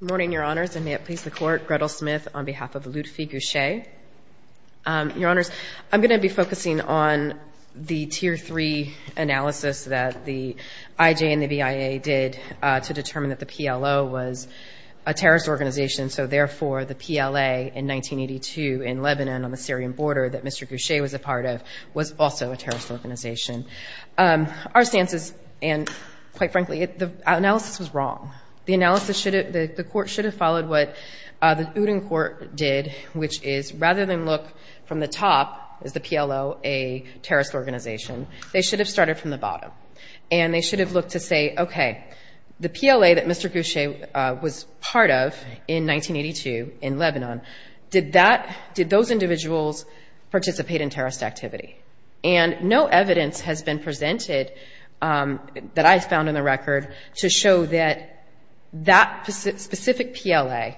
Good morning, Your Honors, and may it please the Court, Gretel Smith on behalf of Lutfi Ghousheh. Your Honors, I'm going to be focusing on the Tier 3 analysis that the IJ and the BIA did to determine that the PLO was a terrorist organization, so therefore the PLA in 1982 in Lebanon on the Syrian border that Mr. Ghousheh was a part of was also a terrorist organization. Our stances, and quite frankly, the analysis was wrong. The analysis should have, the Court should have followed what the Uden Court did, which is rather than look from the top, is the PLO a terrorist organization, they should have started from the bottom, and they should have looked to say, okay, the PLA that Mr. Ghousheh was part of in 1982 in Lebanon, did that, did those individuals participate in terrorist activity? And no evidence has been presented that I found in the record to show that that specific PLA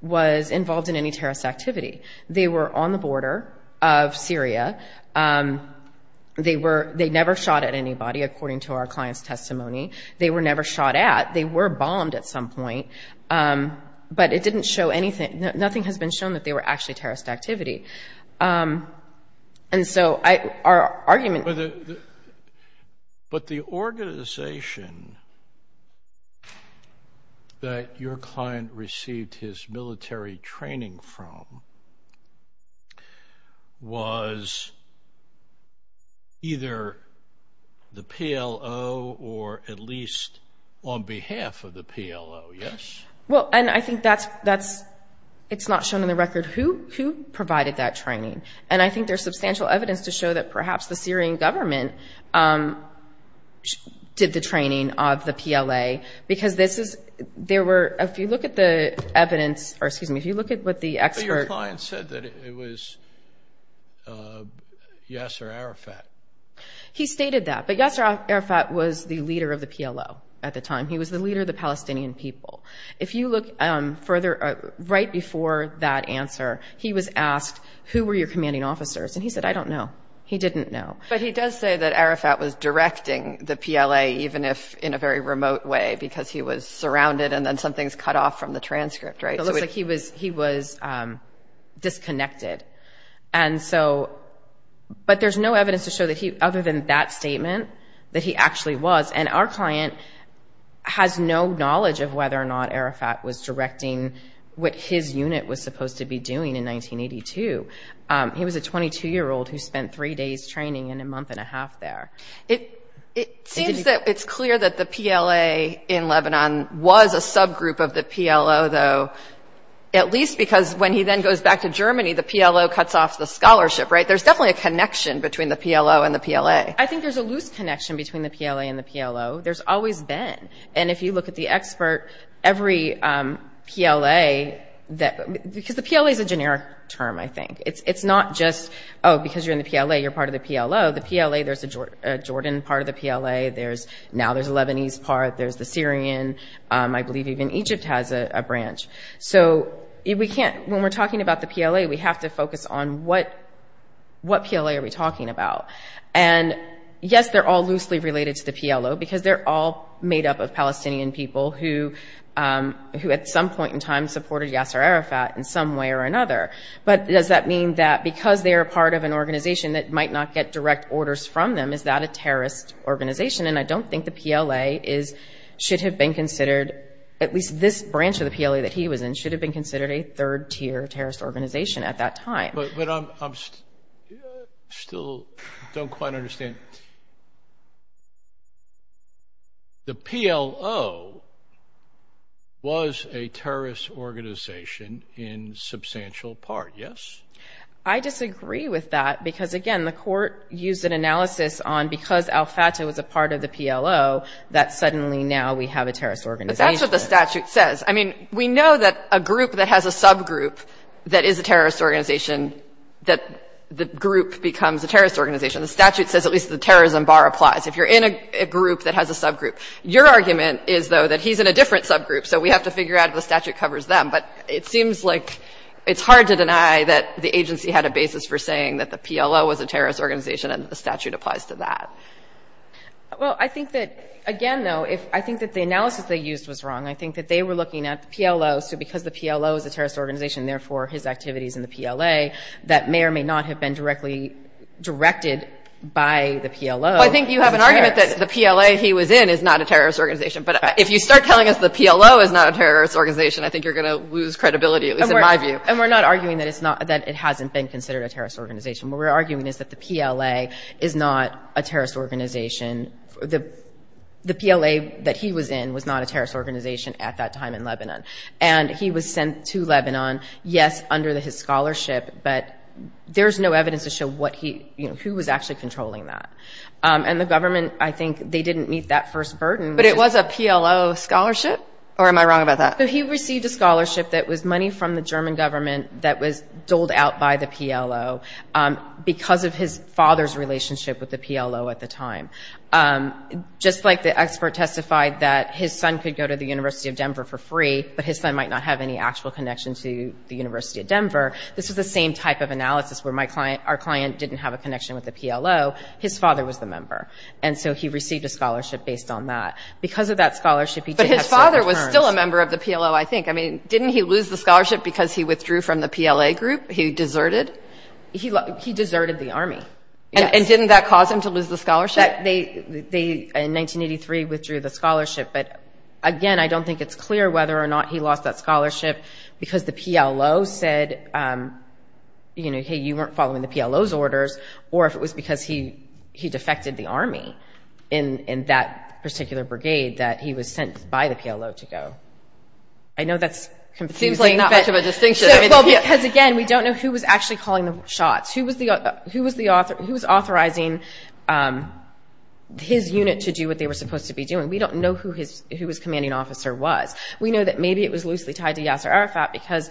was involved in any terrorist activity. They were on the border of Syria. They never shot at anybody, according to our client's testimony. They were never shot at. They were bombed at some point, but it didn't show anything. Nothing has been shown that they were actually terrorist activity. And so our argument. But the organization that your client received his military training from was either the PLO or at least on behalf of the PLO, yes? Well, and I think that's, it's not shown in the record who provided that training. And I think there's substantial evidence to show that perhaps the Syrian government did the training of the PLA, because this is, there were, if you look at the evidence, or excuse me, if you look at what the expert. But your client said that it was Yasser Arafat. He stated that, but Yasser Arafat was the leader of the PLO at the time. He was the leader of the Palestinian people. If you look further, right before that answer, he was asked, who were your commanding officers? And he said, I don't know. He didn't know. But he does say that Arafat was directing the PLA, even if in a very remote way, because he was surrounded and then some things cut off from the transcript, right? It looks like he was disconnected. And so, but there's no evidence to show that he, other than that statement, that he actually was. And our client has no knowledge of whether or not Arafat was directing what his unit was supposed to be doing in 1982. He was a 22-year-old who spent three days training and a month and a half there. It seems that it's clear that the PLA in Lebanon was a subgroup of the PLO, though, at least because when he then goes back to Germany, the PLO cuts off the scholarship, right? There's definitely a connection between the PLO and the PLA. I think there's a loose connection between the PLA and the PLO. There's always been. And if you look at the expert, every PLA, because the PLA is a generic term, I think. It's not just, oh, because you're in the PLA, you're part of the PLO. The PLA, there's a Jordan part of the PLA. Now there's a Lebanese part. There's the Syrian. I believe even Egypt has a branch. So we can't, when we're talking about the PLA, we have to focus on what PLA are we talking about. And, yes, they're all loosely related to the PLO because they're all made up of Palestinian people who, at some point in time, supported Yasser Arafat in some way or another. But does that mean that because they are part of an organization that might not get direct orders from them, is that a terrorist organization? And I don't think the PLA should have been considered, at least this branch of the PLA that he was in, should have been considered a third-tier terrorist organization at that time. But I still don't quite understand. The PLO was a terrorist organization in substantial part, yes? I disagree with that because, again, the court used an analysis on, because al-Fatah was a part of the PLO, that suddenly now we have a terrorist organization. But that's what the statute says. I mean, we know that a group that has a subgroup that is a terrorist organization, that the group becomes a terrorist organization. The statute says at least the terrorism bar applies if you're in a group that has a subgroup. Your argument is, though, that he's in a different subgroup, so we have to figure out if the statute covers them. But it seems like it's hard to deny that the agency had a basis for saying that the PLO was a terrorist organization and the statute applies to that. Well, I think that, again, though, I think that the analysis they used was wrong. I think that they were looking at the PLO, so because the PLO is a terrorist organization, therefore his activities in the PLA, that may or may not have been directly directed by the PLO. Well, I think you have an argument that the PLA he was in is not a terrorist organization. But if you start telling us the PLO is not a terrorist organization, I think you're going to lose credibility, at least in my view. And we're not arguing that it's not, that it hasn't been considered a terrorist organization. What we're arguing is that the PLA is not a terrorist organization. The PLA that he was in was not a terrorist organization at that time in Lebanon. And he was sent to Lebanon, yes, under his scholarship, but there's no evidence to show who was actually controlling that. And the government, I think they didn't meet that first burden. But it was a PLO scholarship, or am I wrong about that? He received a scholarship that was money from the German government that was doled out by the PLO because of his father's relationship with the PLO at the time. Just like the expert testified that his son could go to the University of Denver for free, but his son might not have any actual connection to the University of Denver, this is the same type of analysis where our client didn't have a connection with the PLO, his father was the member. And so he received a scholarship based on that. Because of that scholarship, he did have certain terms. But his father was still a member of the PLO, I think. I mean, didn't he lose the scholarship because he withdrew from the PLA group? He deserted? He deserted the Army. And didn't that cause him to lose the scholarship? They, in 1983, withdrew the scholarship. But, again, I don't think it's clear whether or not he lost that scholarship because the PLO said, you know, hey, you weren't following the PLO's orders, or if it was because he defected the Army in that particular brigade that he was sent by the PLO to go. I know that's confusing. Seems like not much of a distinction. Well, because, again, we don't know who was actually calling the shots. Who was authorizing his unit to do what they were supposed to be doing? We don't know who his commanding officer was. We know that maybe it was loosely tied to Yasser Arafat because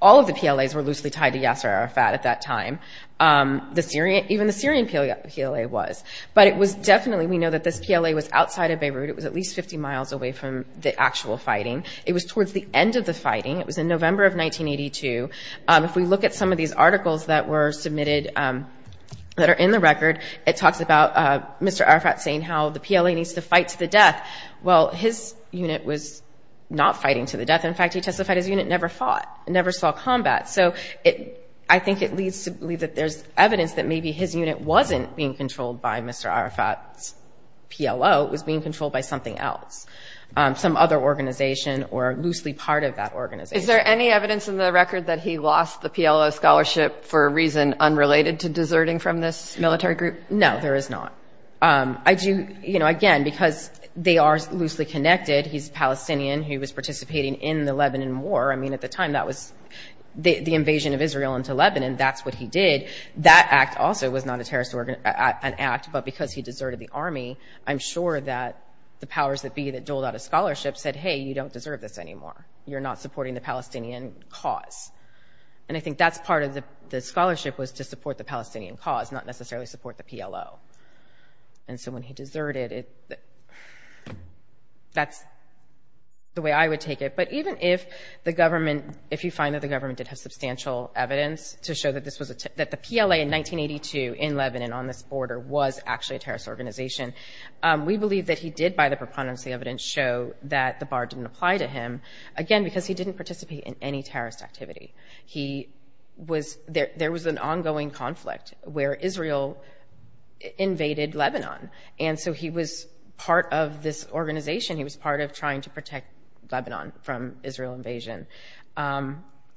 all of the PLAs were loosely tied to Yasser Arafat at that time. Even the Syrian PLA was. But it was definitely, we know that this PLA was outside of Beirut. It was at least 50 miles away from the actual fighting. It was towards the end of the fighting. It was in November of 1982. If we look at some of these articles that were submitted that are in the record, it talks about Mr. Arafat saying how the PLA needs to fight to the death. Well, his unit was not fighting to the death. In fact, he testified his unit never fought, never saw combat. So I think it leads to believe that there's evidence that maybe his unit wasn't being controlled by Mr. Arafat's PLO. It was being controlled by something else, some other organization or loosely part of that organization. Is there any evidence in the record that he lost the PLO scholarship for a reason unrelated to deserting from this military group? No, there is not. Again, because they are loosely connected. He's Palestinian. He was participating in the Lebanon War. I mean, at the time, that was the invasion of Israel into Lebanon. That's what he did. That act also was not a terrorist act, but because he deserted the army, I'm sure that the powers that be that doled out a scholarship said, hey, you don't deserve this anymore. You're not supporting the Palestinian cause. And I think that's part of the scholarship was to support the Palestinian cause, not necessarily support the PLO. And so when he deserted, that's the way I would take it. But even if the government, if you find that the government did have substantial evidence to show that the PLA in 1982 in Lebanon on this border was actually a terrorist organization, we believe that he did, by the preponderance of the evidence, show that the bar didn't apply to him, again, because he didn't participate in any terrorist activity. There was an ongoing conflict where Israel invaded Lebanon. And so he was part of this organization. He was part of trying to protect Lebanon from Israel invasion.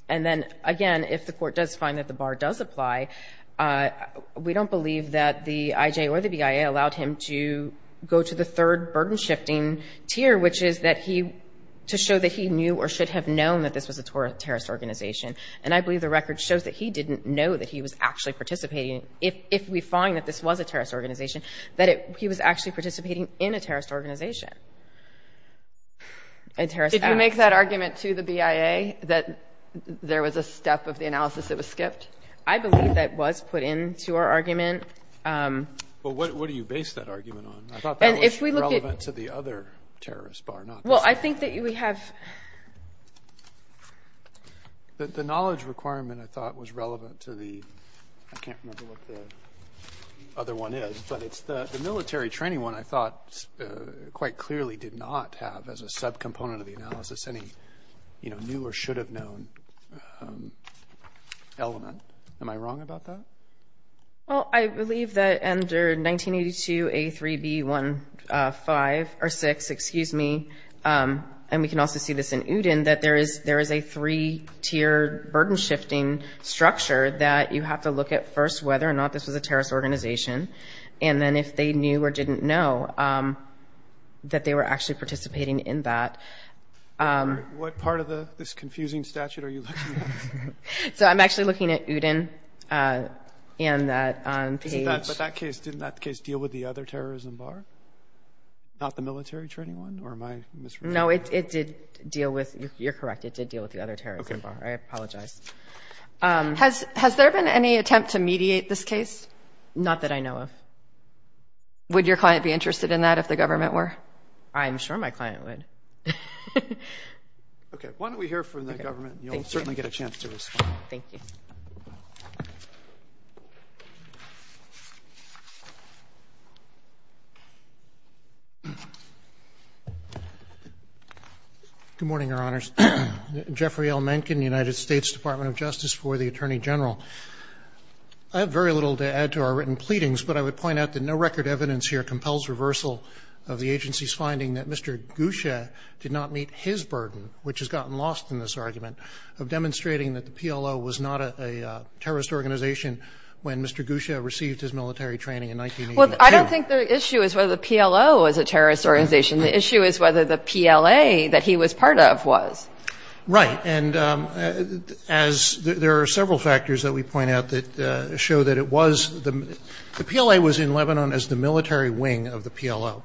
And then, again, if the court does find that the bar does apply, we don't believe that the IJ or the BIA allowed him to go to the third burden-shifting tier, which is to show that he knew or should have known that this was a terrorist organization. And I believe the record shows that he didn't know that he was actually participating, if we find that this was a terrorist organization, that he was actually participating in a terrorist organization, a terrorist act. Did you make that argument to the BIA that there was a step of the analysis that was skipped? I believe that was put into our argument. Well, what do you base that argument on? I thought that was relevant to the other terrorist bar, not this one. Well, I think that we have – The knowledge requirement, I thought, was relevant to the – I can't remember what the other one is, but it's the military training one I thought quite clearly did not have as a subcomponent of the analysis any new or should-have-known element. Am I wrong about that? Well, I believe that under 1982A3B1-5 or 6, excuse me, and we can also see this in UDIN, that there is a three-tiered burden-shifting structure that you have to look at first whether or not this was a terrorist organization, and then if they knew or didn't know that they were actually participating in that. What part of this confusing statute are you looking at? So I'm actually looking at UDIN. But didn't that case deal with the other terrorism bar, not the military training one? No, it did deal with – you're correct, it did deal with the other terrorism bar. I apologize. Has there been any attempt to mediate this case? Not that I know of. Would your client be interested in that if the government were? I'm sure my client would. Okay, why don't we hear from the government, and you'll certainly get a chance to respond. Thank you. Good morning, Your Honors. Jeffrey L. Mencken, United States Department of Justice for the Attorney General. I have very little to add to our written pleadings, but I would point out that no record evidence here compels reversal of the agency's finding that Mr. Gusha did not meet his burden, which has gotten lost in this argument, of demonstrating that the PLO was not a terrorist organization when Mr. Gusha received his military training in 1982. Well, I don't think the issue is whether the PLO was a terrorist organization. The issue is whether the PLA that he was part of was. Right, and as – there are several factors that we point out that show that it was – the PLA was in Lebanon as the military wing of the PLO.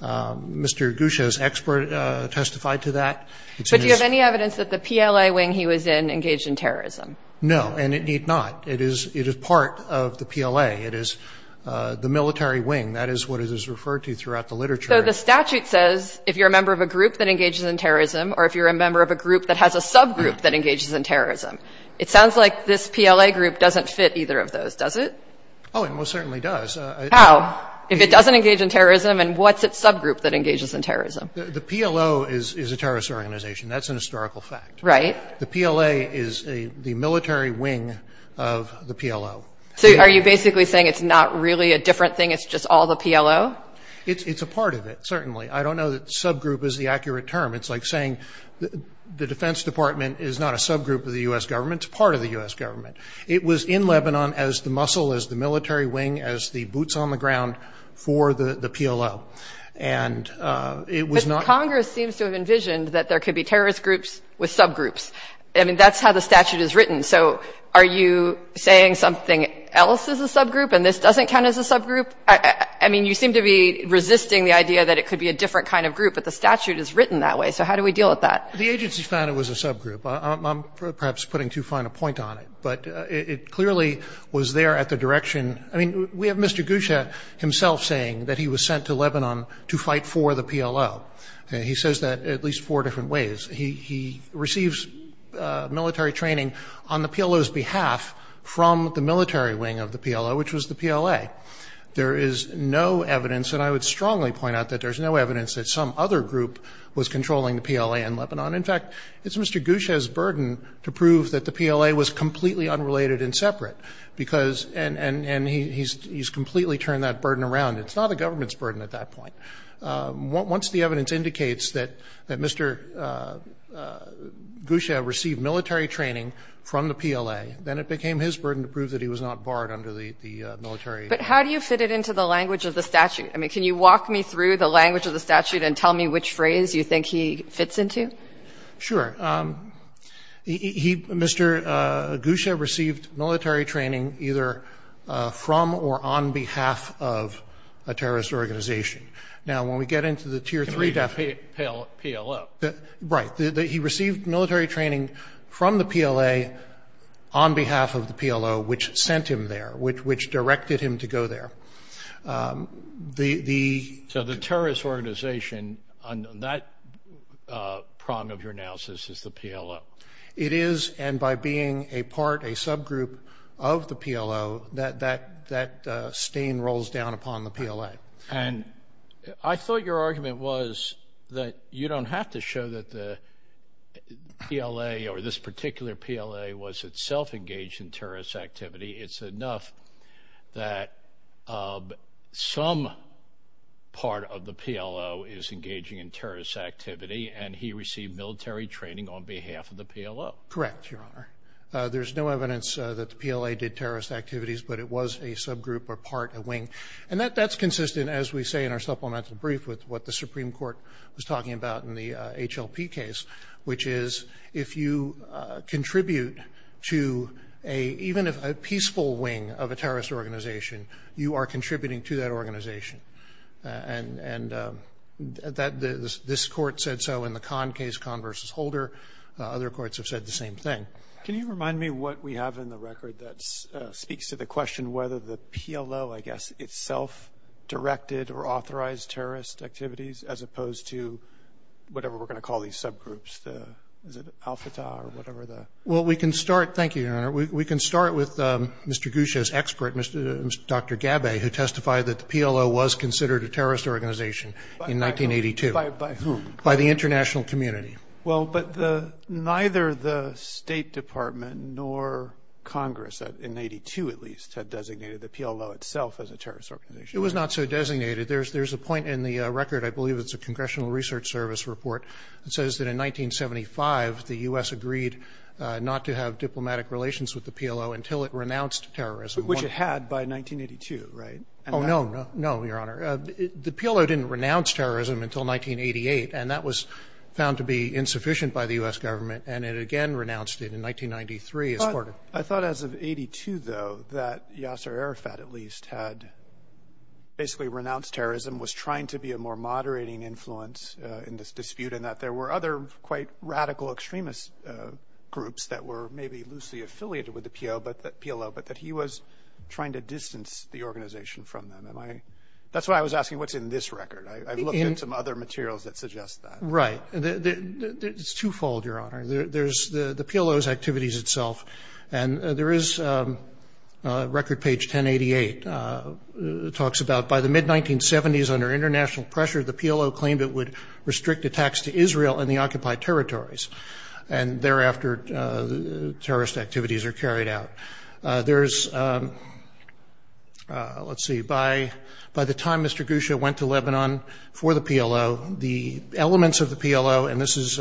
Mr. Gusha's expert testified to that. But do you have any evidence that the PLA wing he was in engaged in terrorism? No, and it need not. It is part of the PLA. It is the military wing. That is what it is referred to throughout the literature. So the statute says if you're a member of a group that engages in terrorism or if you're a member of a group that has a subgroup that engages in terrorism. It sounds like this PLA group doesn't fit either of those, does it? Oh, it most certainly does. How? If it doesn't engage in terrorism, then what's its subgroup that engages in terrorism? The PLO is a terrorist organization. That's a historical fact. Right. The PLA is the military wing of the PLO. So are you basically saying it's not really a different thing, it's just all the PLO? It's a part of it, certainly. I don't know that subgroup is the accurate term. It's like saying the Defense Department is not a subgroup of the U.S. government, it's part of the U.S. government. It was in Lebanon as the muscle, as the military wing, as the boots on the ground for the PLO. And it was not. Congress seems to have envisioned that there could be terrorist groups with subgroups. I mean, that's how the statute is written. So are you saying something else is a subgroup and this doesn't count as a subgroup? I mean, you seem to be resisting the idea that it could be a different kind of group, but the statute is written that way. So how do we deal with that? The agency found it was a subgroup. I'm perhaps putting too fine a point on it. But it clearly was there at the direction. I mean, we have Mr. Gusha himself saying that he was sent to Lebanon to fight for the PLO. He says that at least four different ways. He receives military training on the PLO's behalf from the military wing of the PLO, which was the PLA. There is no evidence, and I would strongly point out that there's no evidence that some other group was controlling the PLA in Lebanon. In fact, it's Mr. Gusha's burden to prove that the PLA was completely unrelated and separate, because he's completely turned that burden around. It's not the government's burden at that point. Once the evidence indicates that Mr. Gusha received military training from the PLA, then it became his burden to prove that he was not barred under the military. But how do you fit it into the language of the statute? I mean, can you walk me through the language of the statute and tell me which phrase you think he fits into? Sure. He, Mr. Gusha received military training either from or on behalf of a terrorist organization. Now, when we get into the Tier 3 definition. The PLO. Right. He received military training from the PLA on behalf of the PLO, which sent him there, which directed him to go there. So the terrorist organization on that prong of your analysis is the PLO? It is. And by being a part, a subgroup of the PLO, that stain rolls down upon the PLA. And I thought your argument was that you don't have to show that the PLA or this particular PLA was itself engaged in terrorist activity. It's enough that some part of the PLO is engaging in terrorist activity, and he received military training on behalf of the PLO. Correct, Your Honor. There's no evidence that the PLA did terrorist activities, but it was a subgroup or part, a wing. And that's consistent, as we say in our supplemental brief, with what the Supreme Court was talking about in the HLP case, which is if you contribute to even a peaceful wing of a terrorist organization, you are contributing to that organization. And this Court said so in the Kahn case, Kahn v. Holder. Other courts have said the same thing. Can you remind me what we have in the record that speaks to the question whether the PLO, I guess, itself directed or authorized terrorist activities as opposed to whatever we're going to call these subgroups? Is it Al-Fatah or whatever? Well, we can start, thank you, Your Honor. We can start with Mr. Gusha's expert, Dr. Gabbay, who testified that the PLO was considered a terrorist organization in 1982. By whom? By the international community. Well, but neither the State Department nor Congress, in 1982 at least, had designated the PLO itself as a terrorist organization. It was not so designated. There's a point in the record, I believe it's a Congressional Research Service report, that says that in 1975 the U.S. agreed not to have diplomatic relations with the PLO until it renounced terrorism. Which it had by 1982, right? Oh, no. No, Your Honor. The PLO didn't renounce terrorism until 1988, and that was found to be insufficient by the U.S. government, and it again renounced it in 1993, as quoted. I thought as of 1982, though, that Yasser Arafat at least had basically renounced terrorism, was trying to be a more moderating influence in this dispute, and that there were other quite radical extremist groups that were maybe loosely affiliated with the PLO, but that he was trying to distance the organization from them. That's why I was asking what's in this record. I've looked into some other materials that suggest that. Right. It's twofold, Your Honor. There's the PLO's activities itself, and there is record page 1088. It talks about by the mid-1970s, under international pressure, the PLO claimed it would restrict attacks to Israel and the occupied territories, and thereafter terrorist activities are carried out. There's, let's see, by the time Mr. Gusha went to Lebanon for the PLO, the elements of the PLO, and this is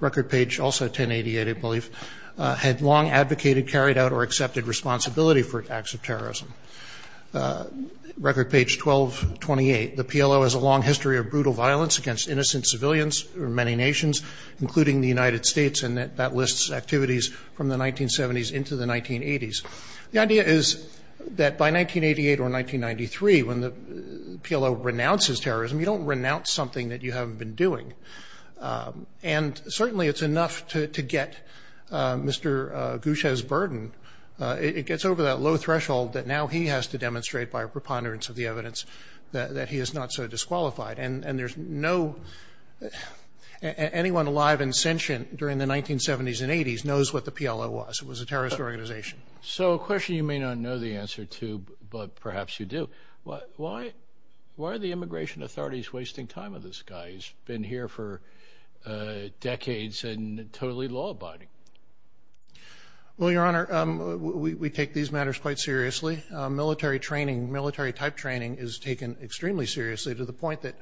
record page also 1088, I believe, had long advocated, carried out, or accepted responsibility for acts of terrorism. Record page 1228, the PLO has a long history of brutal violence against innocent civilians from many nations, including the United States, and that lists activities from the 1970s into the 1980s. The idea is that by 1988 or 1993, when the PLO renounces terrorism, you don't renounce something that you haven't been doing, and certainly it's enough to get Mr. Gusha's burden. It gets over that low threshold that now he has to demonstrate by a preponderance of the evidence that he is not so disqualified, and there's no anyone alive and sentient during the 1970s and 1980s knows what the PLO was. It was a terrorist organization. So a question you may not know the answer to, but perhaps you do. Why are the immigration authorities wasting time with this guy? He's been here for decades and totally law-abiding. Well, Your Honor, we take these matters quite seriously. Military training, military-type training is taken extremely seriously to the point that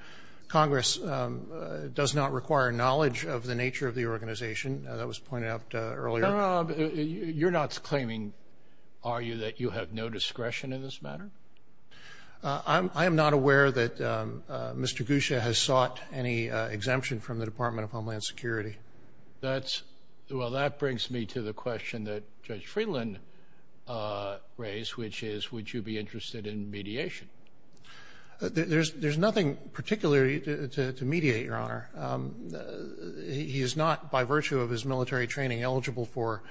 Congress does not require knowledge of the nature of the organization. That was pointed out earlier. Your Honor, you're not claiming, are you, that you have no discretion in this matter? I am not aware that Mr. Gusha has sought any exemption from the Department of Homeland Security. Well, that brings me to the question that Judge Friedland raised, which is would you be interested in mediation? He is not, by virtue of his military training, eligible for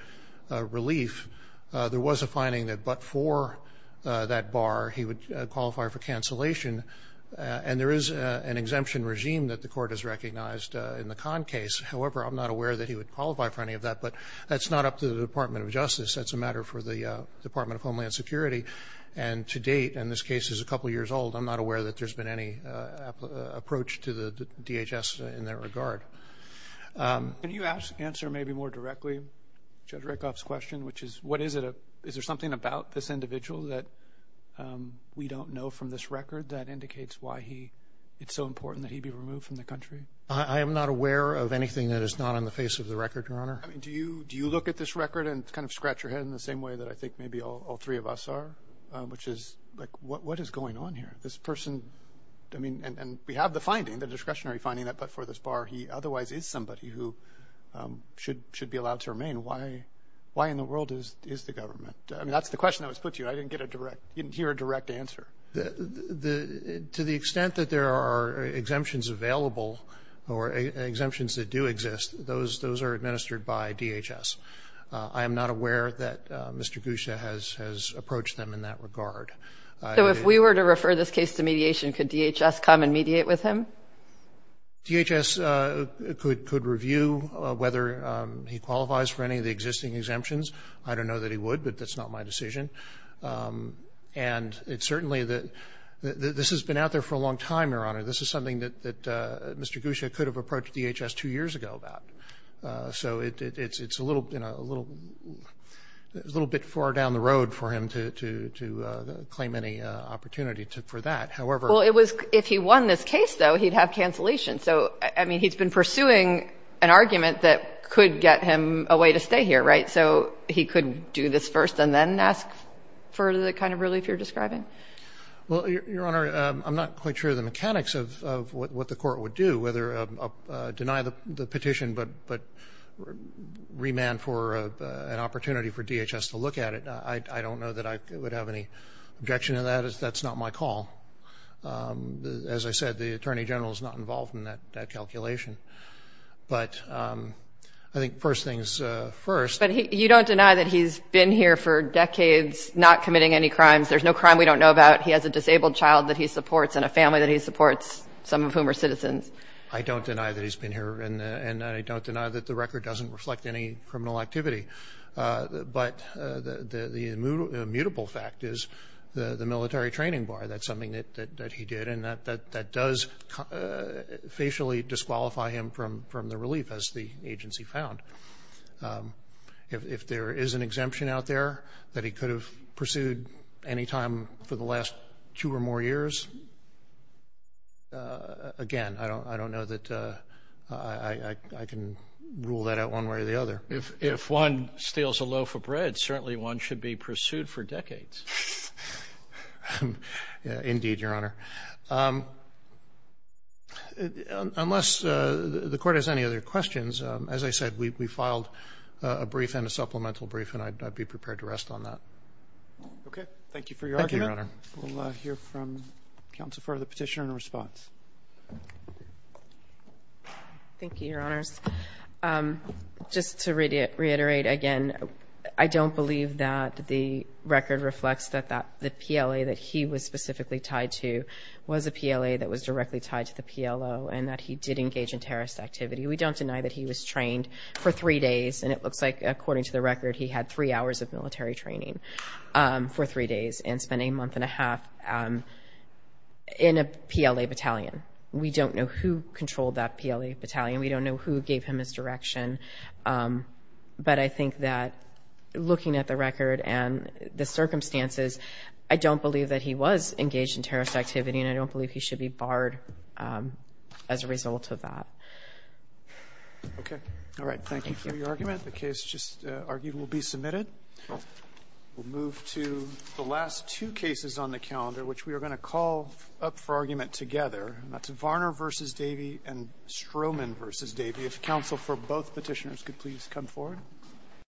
relief. There was a finding that but for that bar he would qualify for cancellation, and there is an exemption regime that the Court has recognized in the Kahn case. However, I'm not aware that he would qualify for any of that, but that's not up to the Department of Justice. That's a matter for the Department of Homeland Security. And to date, and this case is a couple years old, I'm not aware that there's been any approach to the DHS in that regard. Can you answer maybe more directly Judge Rakoff's question, which is, is there something about this individual that we don't know from this record that indicates why it's so important that he be removed from the country? I am not aware of anything that is not on the face of the record, Your Honor. Do you look at this record and kind of scratch your head in the same way that I think maybe all three of us are, which is, like, what is going on here? This person, I mean, and we have the finding, the discretionary finding, that but for this bar he otherwise is somebody who should be allowed to remain. Why in the world is the government? I mean, that's the question that was put to you. I didn't hear a direct answer. To the extent that there are exemptions available or exemptions that do exist, those are administered by DHS. I am not aware that Mr. Gusha has approached them in that regard. So if we were to refer this case to mediation, could DHS come and mediate with him? DHS could review whether he qualifies for any of the existing exemptions. I don't know that he would, but that's not my decision. And it's certainly that this has been out there for a long time, Your Honor. This is something that Mr. Gusha could have approached DHS two years ago about. So it's a little, you know, a little bit far down the road for him to claim any opportunity for that. However ---- Well, it was if he won this case, though, he'd have cancellation. So, I mean, he's been pursuing an argument that could get him a way to stay here, right? So he could do this first and then ask for the kind of relief you're describing? Well, Your Honor, I'm not quite sure the mechanics of what the Court would do, whether to deny the petition but remand for an opportunity for DHS to look at it. I don't know that I would have any objection to that. That's not my call. As I said, the Attorney General is not involved in that calculation. But I think first things first. But you don't deny that he's been here for decades, not committing any crimes. There's no crime we don't know about. He has a disabled child that he supports and a family that he supports, some of whom are citizens. I don't deny that he's been here. And I don't deny that the record doesn't reflect any criminal activity. But the immutable fact is the military training bar. That's something that he did. And that does facially disqualify him from the relief, as the agency found. If there is an exemption out there that he could have pursued any time for the last two or more years, again, I don't know that I can rule that out one way or the other. If one steals a loaf of bread, certainly one should be pursued for decades. Indeed, Your Honor. Unless the Court has any other questions, as I said, we filed a brief and a supplemental brief, and I'd be prepared to rest on that. Thank you for your argument. Thank you, Your Honor. We'll hear from counsel for the petition and response. Thank you, Your Honors. Just to reiterate again, I don't believe that the record reflects that the PLA that he was specifically tied to was a PLA that was directly tied to the PLO and that he did engage in terrorist activity. We don't deny that he was trained for three days, and it looks like, according to the record, he had three hours of military training for three days and spent a month and a half in a PLA battalion. We don't know who controlled that PLA battalion. We don't know who gave him his direction. But I think that, looking at the record and the circumstances, I don't believe that he was engaged in terrorist activity, and I don't believe he should be barred as a result of that. Okay. All right. Thank you for your argument. The case just argued will be submitted. We'll move to the last two cases on the calendar, which we are going to call up for argument together. That's Varner v. Davey and Stroman v. Davey. If counsel for both petitioners could please come forward.